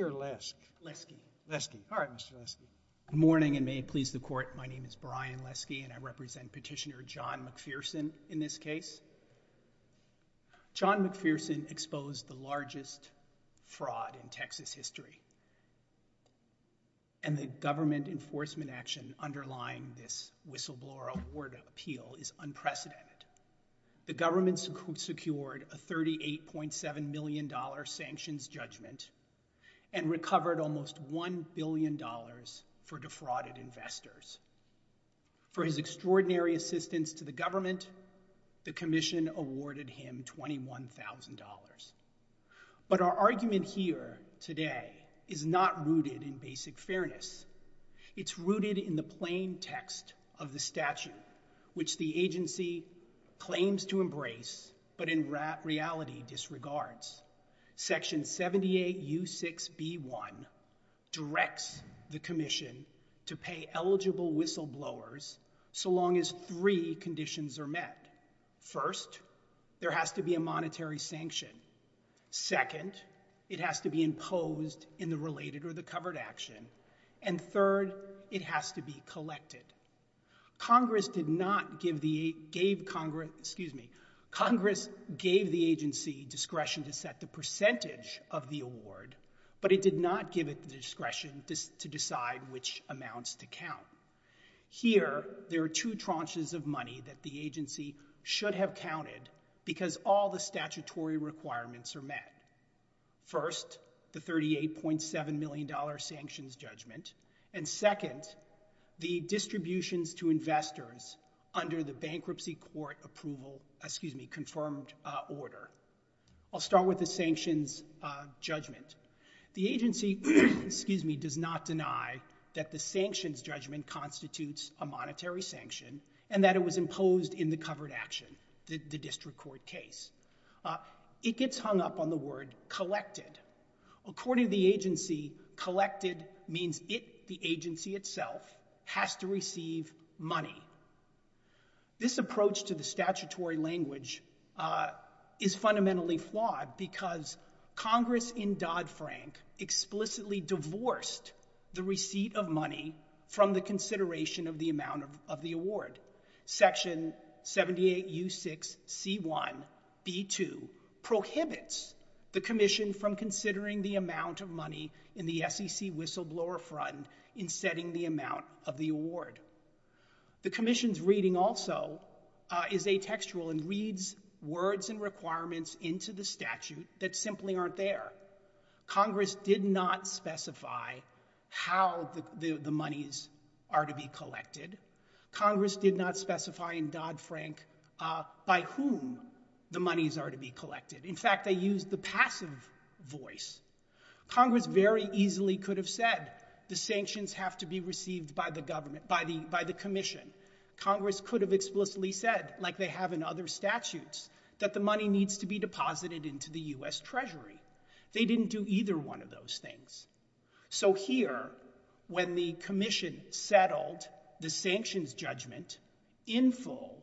or Lasky? Lasky. Lasky. All right, Mr. Lasky. Good morning, and may it please the Court. My name is Brian Lasky, and I represent Petitioner John McPherson in this case. John McPherson exposed the largest fraud in Texas history, and the government enforcement action underlying this whistleblower appeal is unprecedented. The government secured a $38.7 million sanctions judgment and recovered almost $1 billion for defrauded investors. For his extraordinary assistance to the government, the Commission awarded him $21,000. But our argument here today is not rooted in basic fairness. It's rooted in the plain text of the statute, which the agency claims to embrace but in reality disregards. Section 78U6B1 directs the Commission to pay eligible whistleblowers so long as three conditions are met. First, there has to be a monetary sanction. Second, it has to be imposed in the related or the covered action. And third, it has to be collected. Congress did not give the—gave Congress—excuse me—Congress gave the agency discretion to set the percentage of the award, but it did not give it discretion to decide which amounts to count. Here, there are two tranches of money that the agency should have counted because all the statutory requirements are met. First, the $38.7 million sanctions judgment. And second, the distributions to investors under the bankruptcy court approval—excuse me—confirmed order. I'll start with the sanctions judgment. The agency—excuse me—does not deny that the sanctions judgment constitutes a monetary sanction and that it was imposed in the covered action, the district court case. It gets hung up on the word collected. According to the agency, collected means it, the agency itself, has to receive money. This approach to the statutory language is fundamentally flawed because Congress in Dodd-Frank explicitly divorced the receipt of money from the consideration of the amount of the award. Section 78U6C1B2 prohibits the commission from considering the amount of money in the SEC whistleblower fund in setting the amount of the award. The commission's reading also is atextual and reads words and requirements into the statute that simply aren't there. Congress did not specify how the monies are to be collected. Congress did not specify in Dodd-Frank by whom the monies are to be collected. In fact, they used the passive voice. Congress very easily could have said the sanctions have to be received by the government, by the commission. Congress could have explicitly said, like they have in other statutes, that the money needs to be deposited into the U.S. Treasury. They didn't do either one of those things. So here, when the commission settled the sanctions judgment in full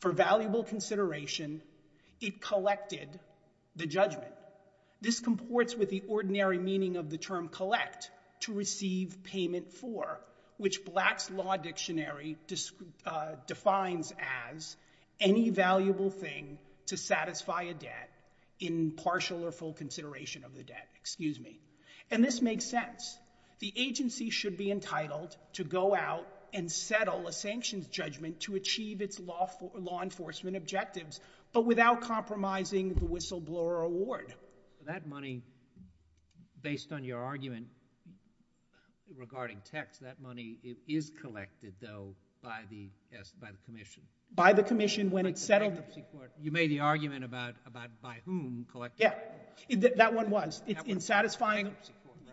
for valuable consideration, it collected the judgment. This comports with the ordinary meaning of the term collect, to receive payment for, which Blatt's Law Dictionary defines as any valuable thing to satisfy a debt in partial or full consideration of the debt, excuse me. And this makes sense. The agency should be entitled to go out and settle a sanctions judgment to achieve its law enforcement objectives, but without compromising the whistleblower award. But that money, based on your argument regarding tax, that money is collected, though, by the commission. By the commission when it's settled. You made the argument about by whom collecting. Yeah, that one was. In satisfying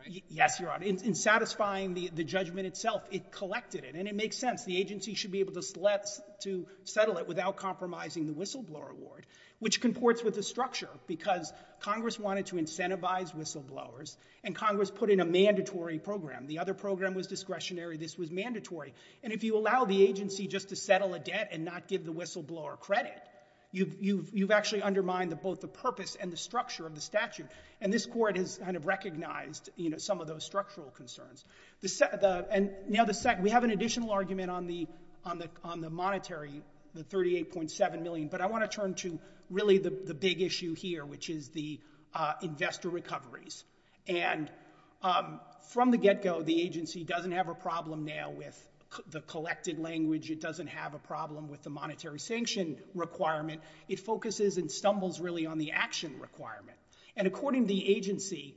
the judgment itself, it collected it. And it makes sense. The agency should be able to settle it without compromising the whistleblower award, which comports with the structure, because Congress wanted to incentivize whistleblowers, and Congress put in a mandatory program. The other program was discretionary. This was mandatory. And if you allow the agency just to settle a debt and not give the whistleblower credit, you've actually undermined both the purpose and the structure of the statute. And this court has recognized some of those structural concerns. And we have an additional argument on the monetary, the $38.7 million. But I want to turn to really the big issue here, which is the investor recoveries. And from the get-go, the agency doesn't have a problem now with the collected language. It doesn't have a problem with the monetary sanction requirement. It focuses and stumbles really on the action requirement. And according to the agency,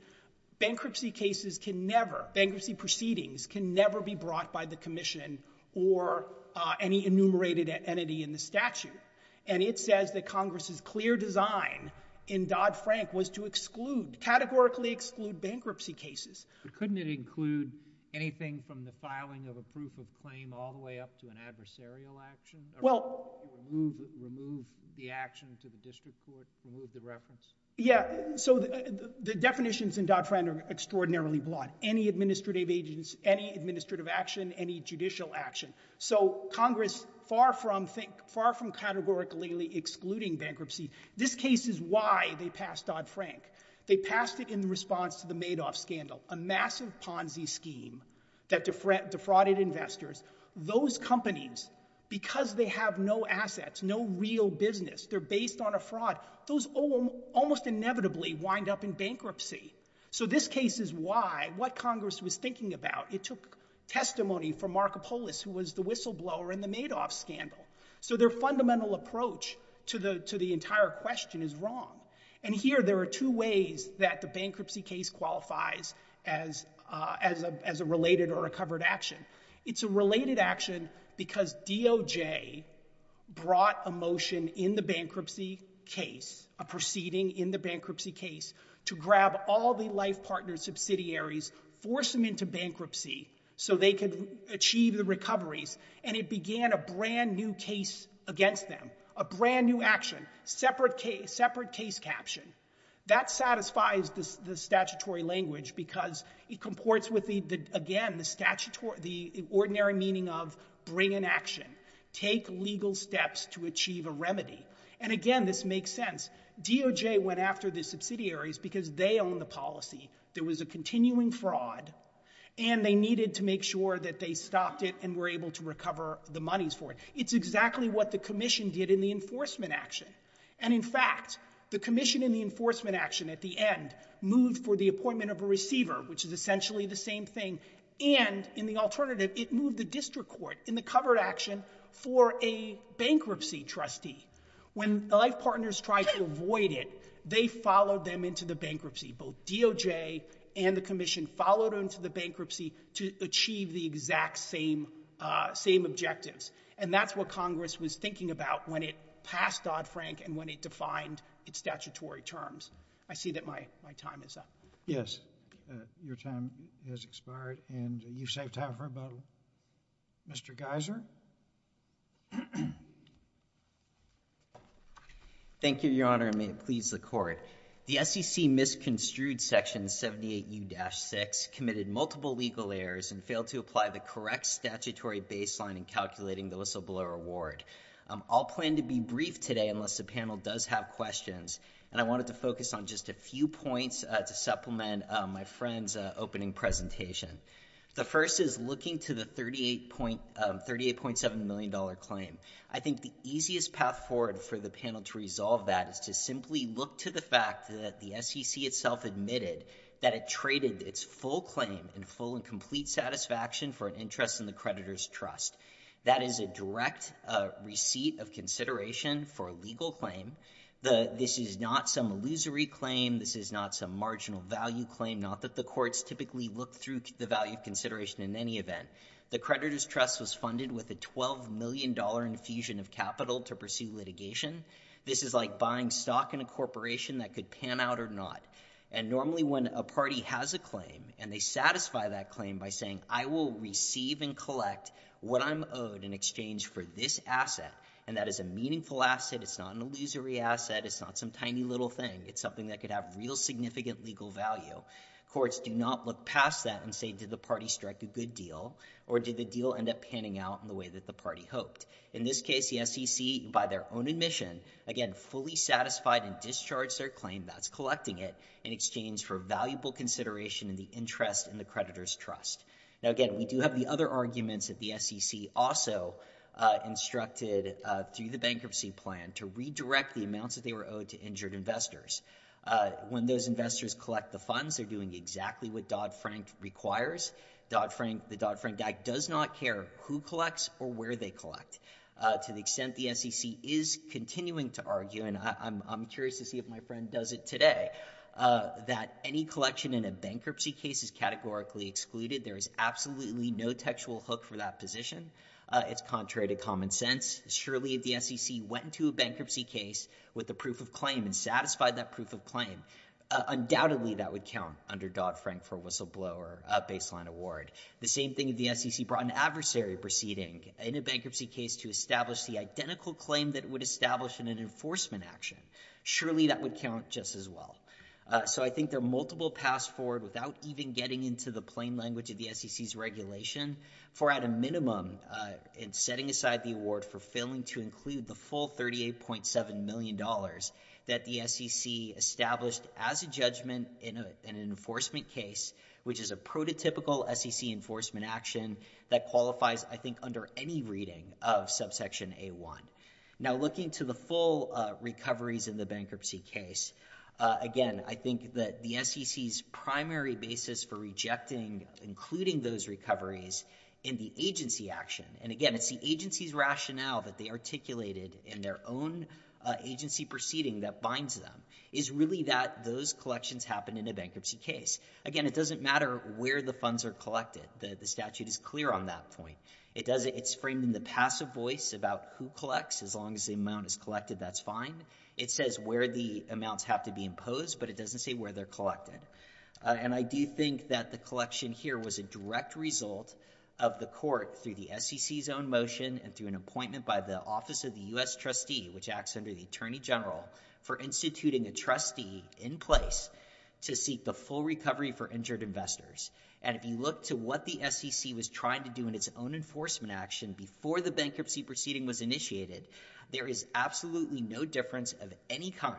bankruptcy cases can never, bankruptcy proceedings can never be brought by the commission or any enumerated entity in the statute. And it says that Congress's clear design in Dodd-Frank was to exclude, categorically exclude bankruptcy cases. But couldn't it include anything from the filing of a proof of claim all the way up to an adversarial action, remove the action to the district court, remove the reference? Yeah. So the definitions in Dodd-Frank are extraordinarily broad. Any administrative agency, any administrative action, any judicial action. So Congress, far from categorically excluding bankruptcy, this case is why they passed Dodd-Frank. They passed it in response to the Madoff scandal, a massive Ponzi scheme that defrauded investors. Those companies, because they have no assets, no real business, they're based on a fraud, those almost inevitably wind up in bankruptcy. So this case is why, what Congress was thinking about. It took testimony from Marco Polis, who was the whistleblower in the Madoff scandal. So their fundamental approach to the entire question is wrong. And here, there are two ways that the bankruptcy case qualifies as a related or a covered action. It's a related action because DOJ brought a motion in the bankruptcy case, a proceeding in the bankruptcy case, to grab all the life partner subsidiaries, force them into bankruptcy so they could achieve the recoveries. And it began a brand new case against them, a brand new action, separate case caption. That satisfies the statutory language because it comports with the, again, the ordinary meaning of bring an action. Take legal steps to achieve a remedy. And again, this makes sense. DOJ went after the subsidiaries because they own the policy. There was a continuing fraud, and they needed to make sure that they stopped it and were able to recover the monies for it. It's exactly what the commission did in the enforcement action. And in fact, the commission in the enforcement action at the end moved for the appointment of a receiver, which is essentially the same thing, and in the alternative, it moved the district court in the covered action for a bankruptcy trustee. When the life partners tried to avoid it, they followed them into the bankruptcy. Both DOJ and the commission followed into the bankruptcy to achieve the exact same objectives. And that's what Congress was thinking about when it passed Dodd-Frank and when it defined its statutory terms. I see that my time is up. Your time has expired, and you've saved time for about a little. Mr. Geiser? Thank you, Your Honor, and may it please the Court. The SEC misconstrued Section 78U-6, committed multiple legal errors, and failed to apply the correct statutory baseline in calculating the whistleblower award. I'll plan to be brief today unless the panel does have questions, and I wanted to focus on just a few points to supplement my friend's opening presentation. The first is looking to the $38.7 million claim. I think the easiest path forward for the panel to resolve that is to simply look to the fact that the SEC itself admitted that it traded its full claim in full and complete satisfaction for an interest in the creditor's trust. That is a direct receipt of consideration for a legal claim. This is not some illusory claim. This is not some marginal value claim. Not that the courts typically look through the value of consideration in any event. The creditor's trust was funded with a $12 million infusion of capital to pursue litigation. This is like buying stock in a corporation that could pan out or not. And normally when a party has a claim, and they satisfy that claim by saying, I will receive and collect what I'm owed in exchange for this asset, and that is a meaningful asset, it's not an illusory asset, it's not some tiny little thing. It's something that could have real significant legal value. Courts do not look past that and say, did the party strike a good deal, or did the deal end up panning out in the way that the party hoped? In this case, the SEC, by their own admission, again, fully satisfied and discharged their claim, that's collecting it, in exchange for valuable consideration in the interest in the creditor's trust. Now again, we do have the other arguments that the SEC also instructed through the bankruptcy plan to redirect the amounts that they were owed to injured investors. When those investors collect the funds, they're doing exactly what Dodd-Frank requires. The Dodd-Frank Act does not care who collects or where they collect, to the extent the SEC is continuing to argue, and I'm curious to see if my friend does it today, that any collection in a bankruptcy case is categorically excluded. There is absolutely no textual hook for that position. It's contrary to common sense. Surely, if the SEC went to a bankruptcy case with a proof of claim and satisfied that proof of claim, undoubtedly that would count under Dodd-Frank for a whistleblower baseline award. The same thing if the SEC brought an adversary proceeding in a bankruptcy case to establish the identical claim that it would establish in an enforcement action, surely that would count just as well. So I think there are multiple paths forward, without even getting into the plain language of the SEC's regulation, for at a minimum, in setting aside the award for failing to include the full $38.7 million that the SEC established as a judgment in an enforcement case, which is a prototypical SEC enforcement action that qualifies, I think, under any reading of subsection A-1. Now looking to the full recoveries in the bankruptcy case, again, I think that the SEC's primary basis for rejecting, including those recoveries, in the agency action, and again, it's the agency's rationale that they articulated in their own agency proceeding that binds them, is really that those collections happen in a bankruptcy case. Again, it doesn't matter where the funds are collected. The statute is clear on that point. It's framed in the passive voice about who collects. As long as the amount is collected, that's fine. It says where the amounts have to be imposed, but it doesn't say where they're collected. And I do think that the collection here was a direct result of the court, through the SEC's own motion and through an appointment by the Office of the U.S. Trustee, which acts under the Attorney General, for instituting a trustee in place to seek the full recovery for injured investors. And if you look to what the SEC was trying to do in its own enforcement action before the bankruptcy proceeding was initiated, there is absolutely no difference of any kind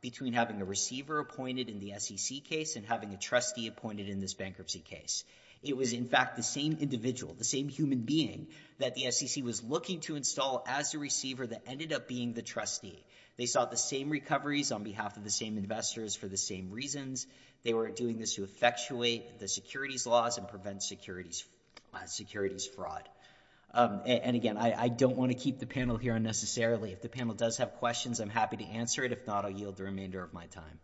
between having a receiver appointed in the SEC case and having a trustee appointed in this bankruptcy case. It was in fact the same individual, the same human being, that the SEC was looking to install as the receiver that ended up being the trustee. They sought the same recoveries on behalf of the same investors for the same reasons. They were doing this to effectuate the securities laws and prevent securities fraud. And again, I don't want to keep the panel here unnecessarily. If the panel does have questions, I'm happy to answer it. If not, I'll yield the remainder of my time.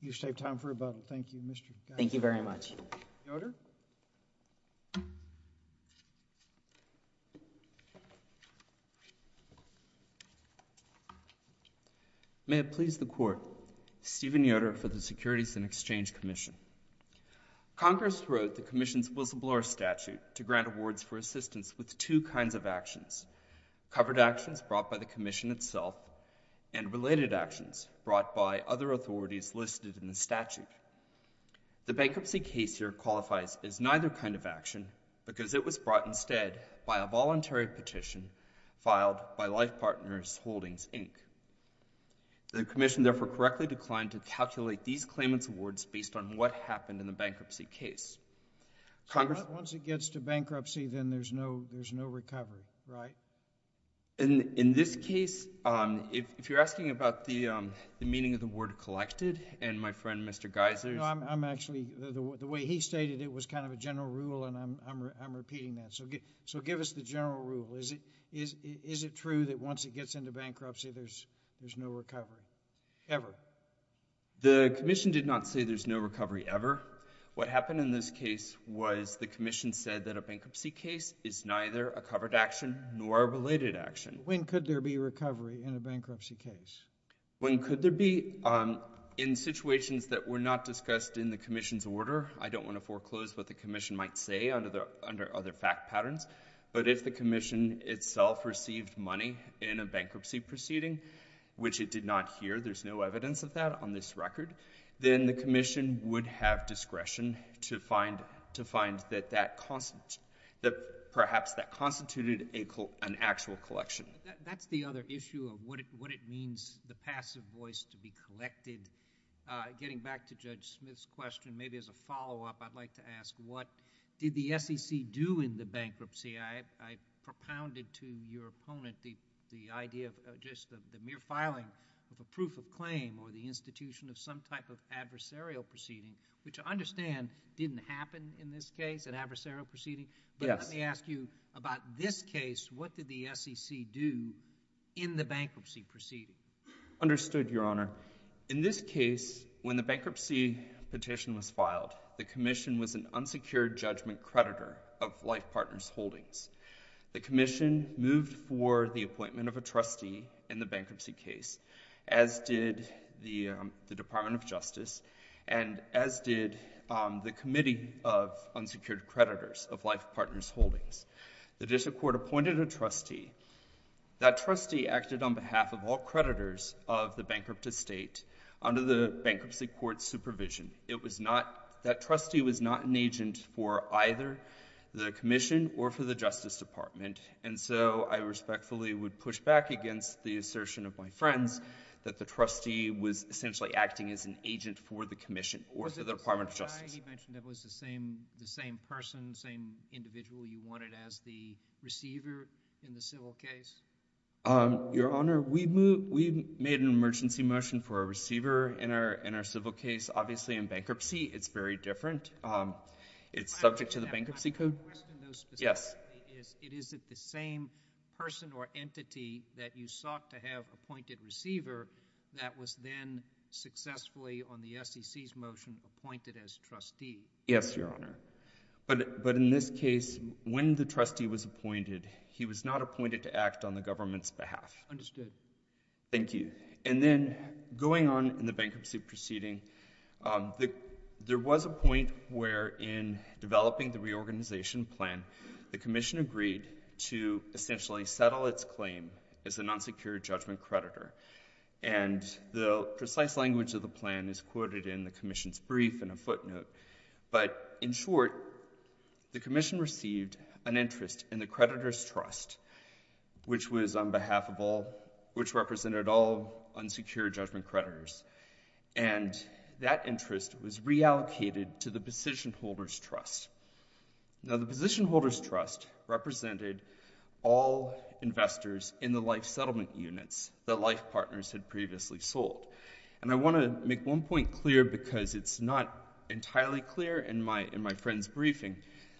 You should have time for rebuttal. Thank you, Mr. Gossett. Thank you very much. May it please the Court, Steven Yoder for the Securities and Exchange Commission. Congress wrote the Commission's Whistleblower Statute to grant awards for assistance with two kinds of actions, covered actions brought by the Commission itself and related actions brought by other authorities listed in the statute. The bankruptcy case here qualifies as neither kind of action because it was brought instead by a voluntary petition filed by Life Partners Holdings, Inc. The Commission therefore correctly declined to calculate these claimants' awards based on what happened in the bankruptcy case. Once it gets to bankruptcy, then there's no recovery, right? In this case, if you're asking about the meaning of the word collected and my friend, Mr. Geyser's No, I'm actually, the way he stated it was kind of a general rule and I'm repeating that. So give us the general rule. Is it true that once it gets into bankruptcy, there's no recovery ever? The Commission did not say there's no recovery ever. What happened in this case was the Commission said that a bankruptcy case is neither a covered action nor a related action. When could there be recovery in a bankruptcy case? When could there be? In situations that were not discussed in the Commission's order, I don't want to foreclose what the Commission might say under other fact patterns, but if the Commission itself received money in a bankruptcy proceeding, which it did not hear, there's no evidence of that on this record, then the Commission would have discretion to find that perhaps that constituted an actual collection. That's the other issue of what it means, the passive voice to be collected. Getting back to Judge Smith's question, maybe as a follow-up, I'd like to ask what did the SEC do in the bankruptcy? I propounded to your opponent the idea of just the mere filing of a proof of claim or the institution of some type of adversarial proceeding, which I understand didn't happen in this case, an adversarial proceeding, but let me ask you about this case. What did the SEC do in the bankruptcy proceeding? Understood, Your Honor. In this case, when the bankruptcy petition was filed, the Commission was an unsecured judgment creditor of Life Partners Holdings. The Commission moved for the appointment of a trustee in the bankruptcy case, as did the Department of Justice and as did the Committee of Unsecured Creditors of Life Partners Holdings. The district court appointed a trustee. That trustee acted on behalf of all creditors of the bankrupt estate under the bankruptcy court supervision. It was not... that trustee was not an agent for either the Commission or for the Justice Department, and so I respectfully would push back against the assertion of my friends that the trustee was essentially acting as an agent for the Commission or for the Department of Was it the same guy he mentioned that was the same person, same individual you wanted as the receiver in the civil case? Your Honor, we made an emergency motion for a receiver in our civil case. Obviously, in bankruptcy, it's very different. It's subject to the bankruptcy code. My question though specifically is, is it the same person or entity that you sought to have appointed receiver that was then successfully, on the SEC's motion, appointed as trustee? Yes, Your Honor. But in this case, when the trustee was appointed, he was not appointed to act on the government's Understood. Thank you. And then, going on in the bankruptcy proceeding, there was a point where, in developing the reorganization plan, the Commission agreed to essentially settle its claim as a non-secure judgment creditor. And the precise language of the plan is quoted in the Commission's brief in a footnote. But in short, the Commission received an interest in the creditor's trust, which was on behalf of all, which represented all unsecure judgment creditors. And that interest was reallocated to the position holders' trust. Now, the position holders' trust represented all investors in the life settlement units that Life Partners had previously sold. And I want to make one point clear because it's not entirely clear in my friend's briefing.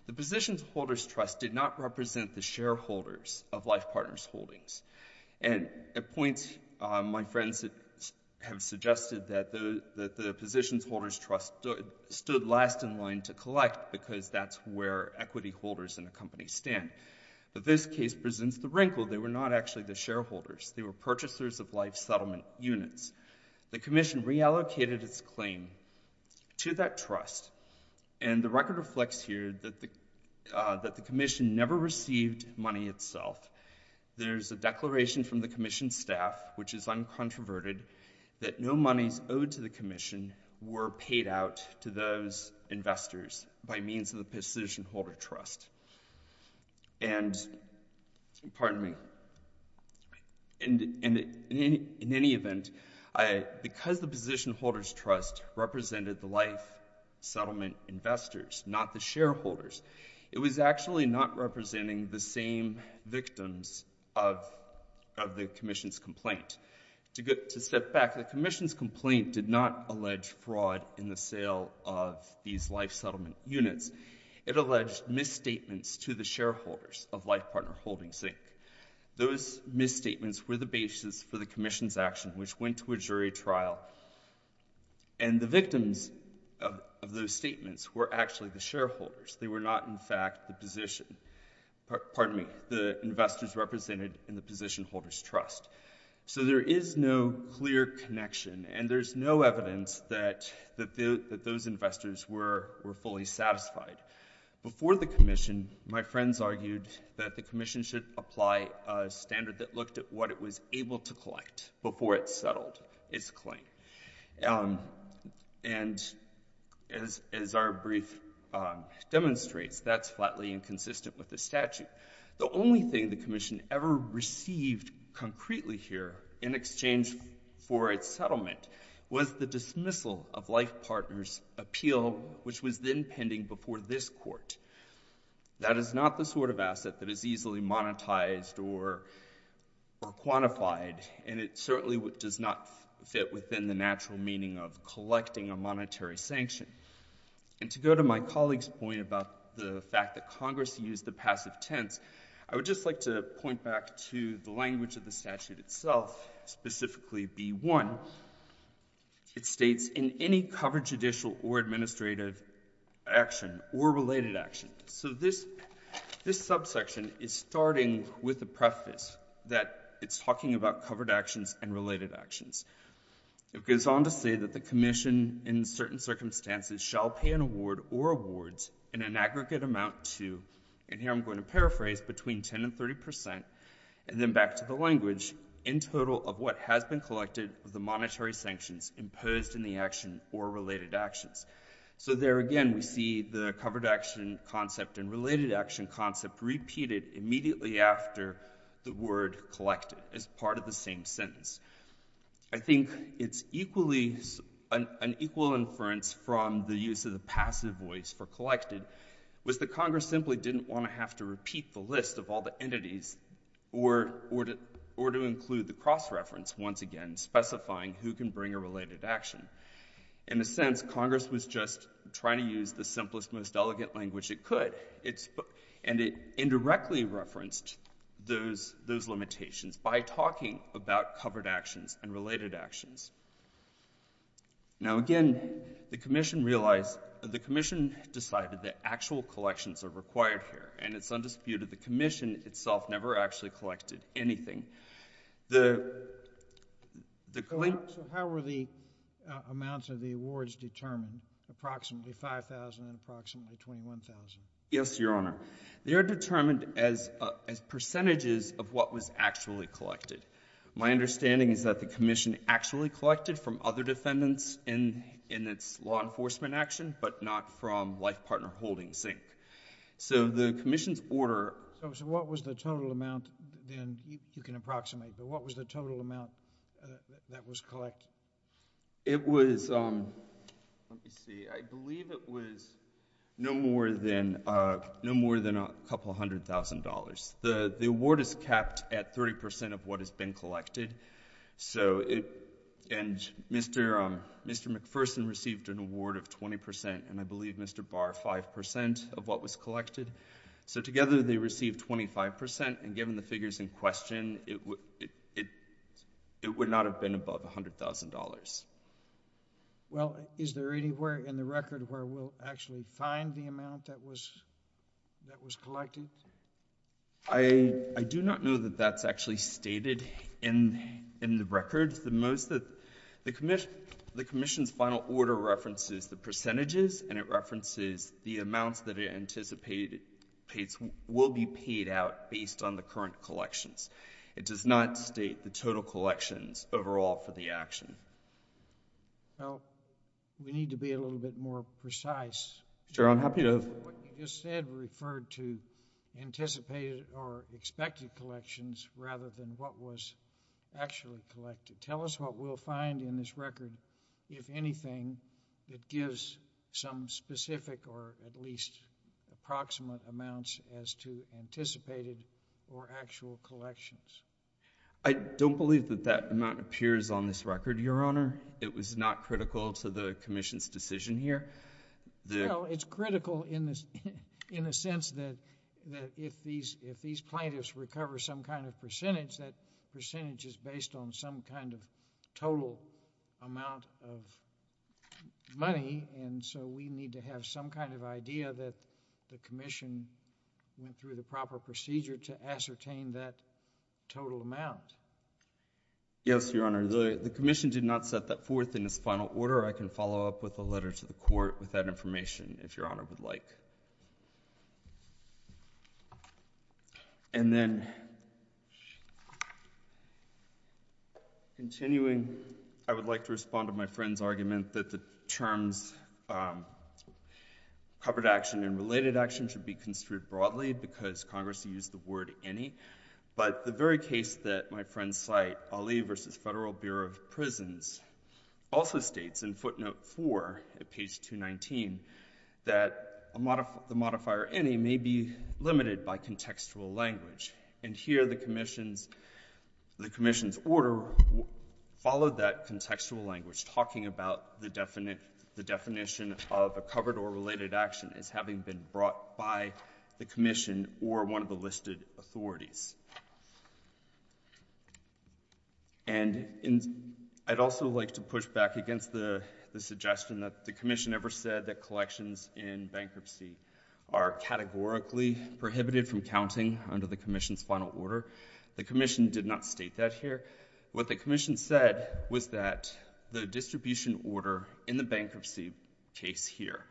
The position holders' trust did not represent the shareholders of Life Partners Holdings. And at points, my friends have suggested that the position holders' trust stood last in line to collect because that's where equity holders in a company stand. But this case presents the wrinkle. They were not actually the shareholders. They were purchasers of life settlement units. The Commission reallocated its claim to that trust. And the record reflects here that the Commission never received money itself. There's a declaration from the Commission staff, which is uncontroverted, that no monies owed to the Commission were paid out to those investors by means of the position holders' And, pardon me, in any event, because the position holders' trust represented the life settlement investors, not the shareholders, it was actually not representing the same victims of the Commission's complaint. To step back, the Commission's complaint did not allege fraud in the sale of these life settlement units. It alleged misstatements to the shareholders of Life Partners Holdings Inc. Those misstatements were the basis for the Commission's action, which went to a jury trial. And the victims of those statements were actually the shareholders. They were not, in fact, the position—pardon me, the investors represented in the position holders' trust. So there is no clear connection, and there's no evidence that those investors were fully satisfied. Before the Commission, my friends argued that the Commission should apply a standard that looked at what it was able to collect before it settled its claim. And as our brief demonstrates, that's flatly inconsistent with the statute. The only thing the Commission ever received concretely here in exchange for its settlement was the dismissal of Life Partners' appeal, which was then pending before this Court. That is not the sort of asset that is easily monetized or quantified, and it certainly does not fit within the natural meaning of collecting a monetary sanction. And to go to my colleague's point about the fact that Congress used the passive tense, I would just like to point back to the language of the statute itself, specifically B-1. It states, in any covered judicial or administrative action or related action. So this subsection is starting with the preface that it's talking about covered actions and related actions. It goes on to say that the Commission in certain circumstances shall pay an award or awards in an aggregate amount to—and here I'm going to paraphrase—between 10 and 30 percent, and then back to the language, in total of what has been collected of the monetary sanctions imposed in the action or related actions. So there again we see the covered action concept and related action concept repeated immediately after the word collected as part of the same sentence. I think it's equally—an equal inference from the use of the passive voice for collected was that Congress simply didn't want to have to repeat the list of all the entities or to include the cross-reference once again, specifying who can bring a related action. In a sense, Congress was just trying to use the simplest, most elegant language it could, and it indirectly referenced those limitations by talking about covered actions and related actions. Now, again, the Commission realized—the Commission decided that actual collections are required here, and it's undisputed the Commission itself never actually collected anything. The— So how were the amounts of the awards determined, approximately 5,000 and approximately 21,000? Yes, Your Honor, they are determined as percentages of what was actually collected. My understanding is that the Commission actually collected from other defendants in its law enforcement action, but not from life partner holding zinc. So the Commission's order— So what was the total amount then—you can approximate, but what was the total amount that was collected? It was—let me see—I believe it was no more than a couple hundred thousand dollars. The award is capped at 30 percent of what has been collected, so it—and Mr. McPherson received an award of 20 percent, and I believe Mr. Barr, 5 percent of what was collected. So together they received 25 percent, and given the figures in question, it would not have been above $100,000. Well, is there anywhere in the record where we'll actually find the amount that was collected? I do not know that that's actually stated in the record. The most that—the Commission's final order references the percentages, and it references the amounts that it anticipates will be paid out based on the current collections. It does not state the total collections overall for the action. Well, we need to be a little bit more precise. Sure, I'm happy to— But what you just said referred to anticipated or expected collections rather than what was actually collected. Tell us what we'll find in this record, if anything, that gives some specific or at least approximate amounts as to anticipated or actual collections. I don't believe that that amount appears on this record, Your Honor. It was not critical to the Commission's decision here. Well, it's critical in the sense that if these plaintiffs recover some kind of percentage, that percentage is based on some kind of total amount of money, and so we need to have some kind of idea that the Commission went through the proper procedure to ascertain that total amount. Yes, Your Honor. The Commission did not set that forth in its final order. I can follow up with a letter to the Court with that information, if Your Honor would like. And then, continuing, I would like to respond to my friend's argument that the terms covered action and related action should be construed broadly because Congress used the word any, but the very case that my friend cite, Ali v. Federal Bureau of Prisons, also states in footnote 4, at page 219, that the modifier any may be limited by contextual language, and here the Commission's order followed that contextual language, talking about the definition of a covered or related action as having been brought by the Commission or one of the listed authorities. And I'd also like to push back against the suggestion that the Commission ever said that collections in bankruptcy are categorically prohibited from counting under the Commission's final order. The Commission did not state that here. What the Commission said was that the distribution order in the bankruptcy case here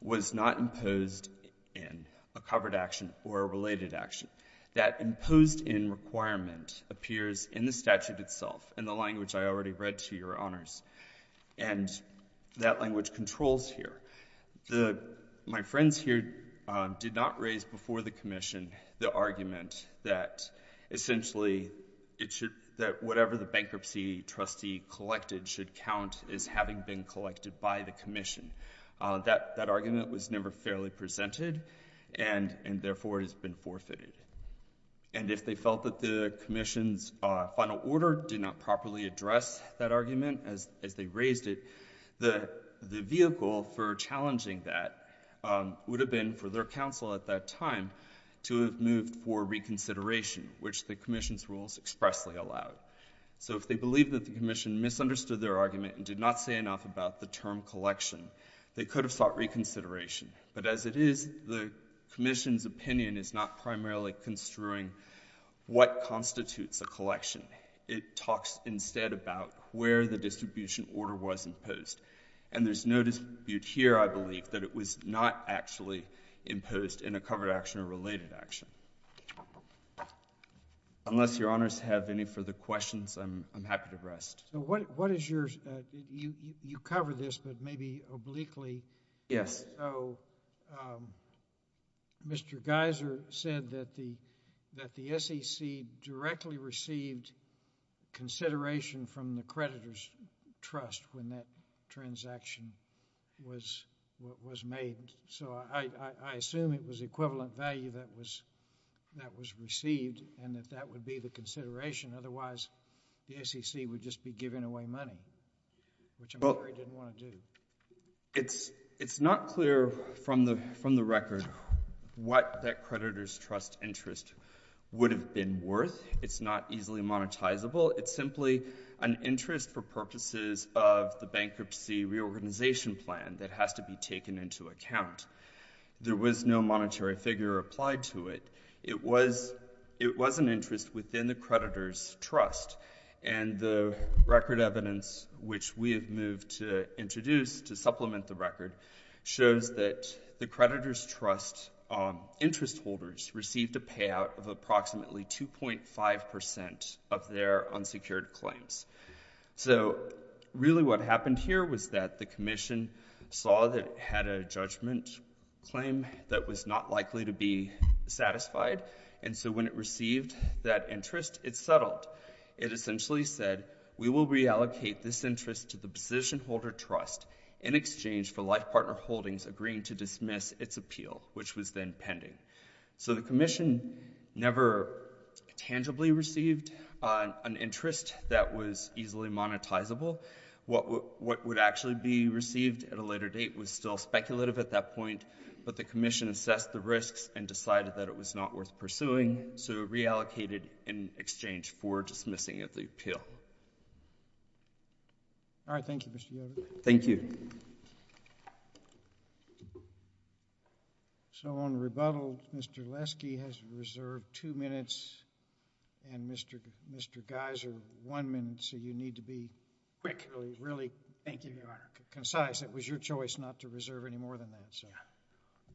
was not imposed in a covered action or a related action. That imposed in requirement appears in the statute itself, in the language I already read to Your Honors, and that language controls here. My friends here did not raise before the Commission the argument that essentially it should, that whatever the bankruptcy trustee collected should count as having been collected by the Commission. That argument was never fairly presented and, therefore, has been forfeited. And if they felt that the Commission's final order did not properly address that argument as they raised it, the vehicle for challenging that would have been for their counsel at that time to have moved for reconsideration, which the Commission's rules expressly allowed. So if they believe that the Commission misunderstood their argument and did not say enough about the term collection, they could have sought reconsideration. But as it is, the Commission's opinion is not primarily construing what constitutes a collection. It talks instead about where the distribution order was imposed. And there's no dispute here, I believe, that it was not actually imposed in a covered action or related action. Unless Your Honors have any further questions, I'm happy to rest. So what is your, you covered this, but maybe obliquely. So Mr. Geiser said that the SEC directly received consideration from the creditor's trust when that transaction was made. So I assume it was equivalent value that was received and that that would be the consideration. Otherwise, the SEC would just be giving away money, which I'm afraid they didn't want to do. It's not clear from the record what that creditor's trust interest would have been worth. It's not easily monetizable. It's simply an interest for purposes of the bankruptcy reorganization plan that has to be taken into account. There was no monetary figure applied to it. It was an interest within the creditor's trust. And the record evidence, which we have moved to introduce to supplement the record, shows that the creditor's trust interest holders received a payout of approximately 2.5 percent of their unsecured claims. So really what happened here was that the Commission saw that it had a judgment claim that was not likely to be satisfied. And so when it received that interest, it settled. It essentially said, we will reallocate this interest to the position holder trust in exchange for life partner holdings agreeing to dismiss its appeal, which was then pending. So the Commission never tangibly received an interest that was easily monetizable. What would actually be received at a later date was still speculative at that point, but the Commission assessed the risks and decided that it was not worth pursuing. So it reallocated in exchange for dismissing of the appeal. All right. Thank you, Mr. Yoder. Thank you. So on rebuttal, Mr. Leske has reserved two minutes and Mr. Geiser one minute, so you need to be quick. Really, really concise. Thank you, Your Honor. Concise. It was your choice not to reserve any more than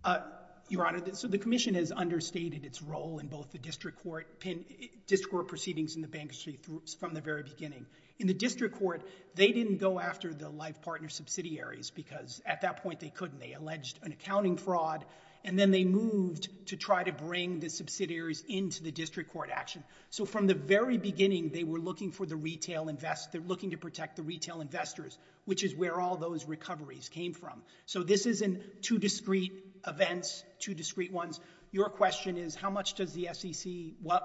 that. Your Honor, so the Commission has understated its role in both the district court proceedings in the bank from the very beginning. In the district court, they didn't go after the life partner subsidiaries because at that point they couldn't. They alleged an accounting fraud and then they moved to try to bring the subsidiaries into the district court action. So from the very beginning, they were looking to protect the retail investors, which is where all those recoveries came from. So this is in two discreet events, two discreet ones. Your question is how much does the SEC,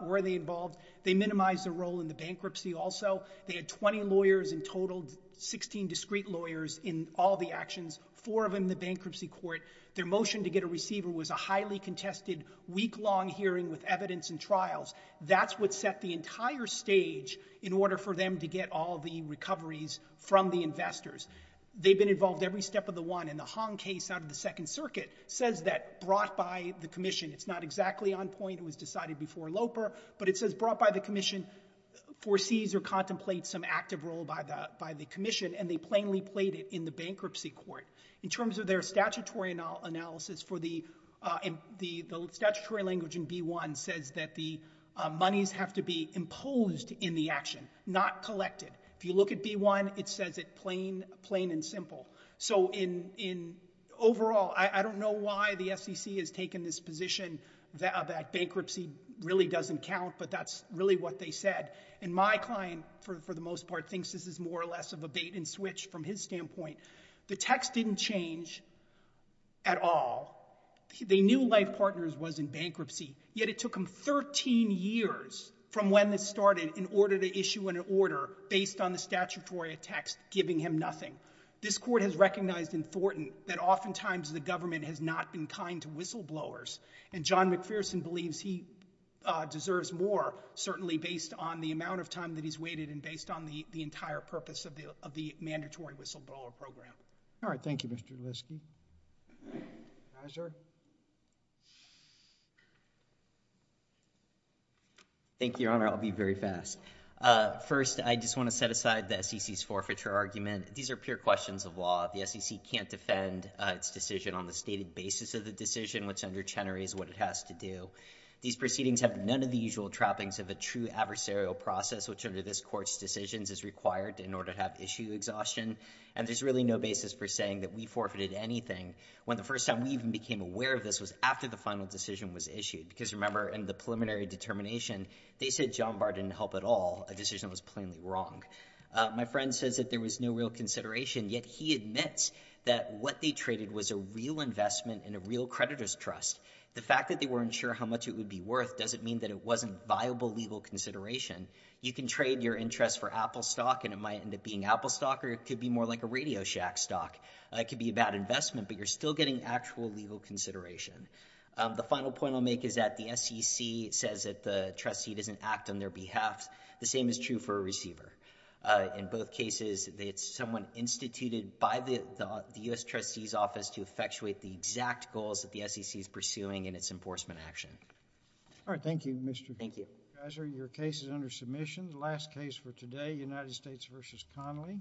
were they involved? They minimized the role in the bankruptcy also. They had 20 lawyers in total, 16 discreet lawyers in all the actions, four of them in the bankruptcy court. Their motion to get a receiver was a highly contested week-long hearing with evidence and trials. That's what set the entire stage in order for them to get all the recoveries from the They've been involved every step of the one, and the Hong case out of the Second Circuit says that brought by the Commission. It's not exactly on point. It was decided before Loper, but it says brought by the Commission, foresees or contemplates some active role by the Commission, and they plainly played it in the bankruptcy court. In terms of their statutory analysis, the statutory language in B-1 says that the monies have to be imposed in the action, not collected. If you look at B-1, it says it plain and simple. So in overall, I don't know why the SEC has taken this position that bankruptcy really doesn't count, but that's really what they said. And my client, for the most part, thinks this is more or less of a bait and switch from his standpoint. The text didn't change at all. They knew Life Partners was in bankruptcy, yet it took them 13 years from when this started in order to issue an order based on the statutory text, giving him nothing. This court has recognized in Thornton that oftentimes the government has not been kind to whistleblowers, and John McPherson believes he deserves more, certainly based on the amount of time that he's waited and based on the entire purpose of the mandatory whistleblower program. All right. Thank you, Mr. Liske. Advisor? Thank you, Your Honor. I'll be very fast. First, I just want to set aside the SEC's forfeiture argument. These are pure questions of law. The SEC can't defend its decision on the stated basis of the decision, which under Chenery is what it has to do. These proceedings have none of the usual trappings of a true adversarial process, which under this court's decisions is required in order to have issue exhaustion, and there's really no basis for saying that we forfeited anything when the first time we even became aware of this was after the final decision was issued, because remember, in the preliminary determination, they said John Barr didn't help at all, a decision that was plainly wrong. My friend says that there was no real consideration, yet he admits that what they traded was a real investment in a real creditor's trust. The fact that they weren't sure how much it would be worth doesn't mean that it wasn't viable legal consideration. You can trade your interest for Apple stock, and it might end up being Apple stock, or it could be more like a Radio Shack stock. It could be a bad investment, but you're still getting actual legal consideration. The final point I'll make is that the SEC says that the trustee doesn't act on their behalf. The same is true for a receiver. In both cases, it's someone instituted by the U.S. Trustee's Office to effectuate the exact goals that the SEC is pursuing in its enforcement action. All right. Thank you, Mr. Gasser. Thank you. Your case is under submission. The last case for today, United States v. Connolly.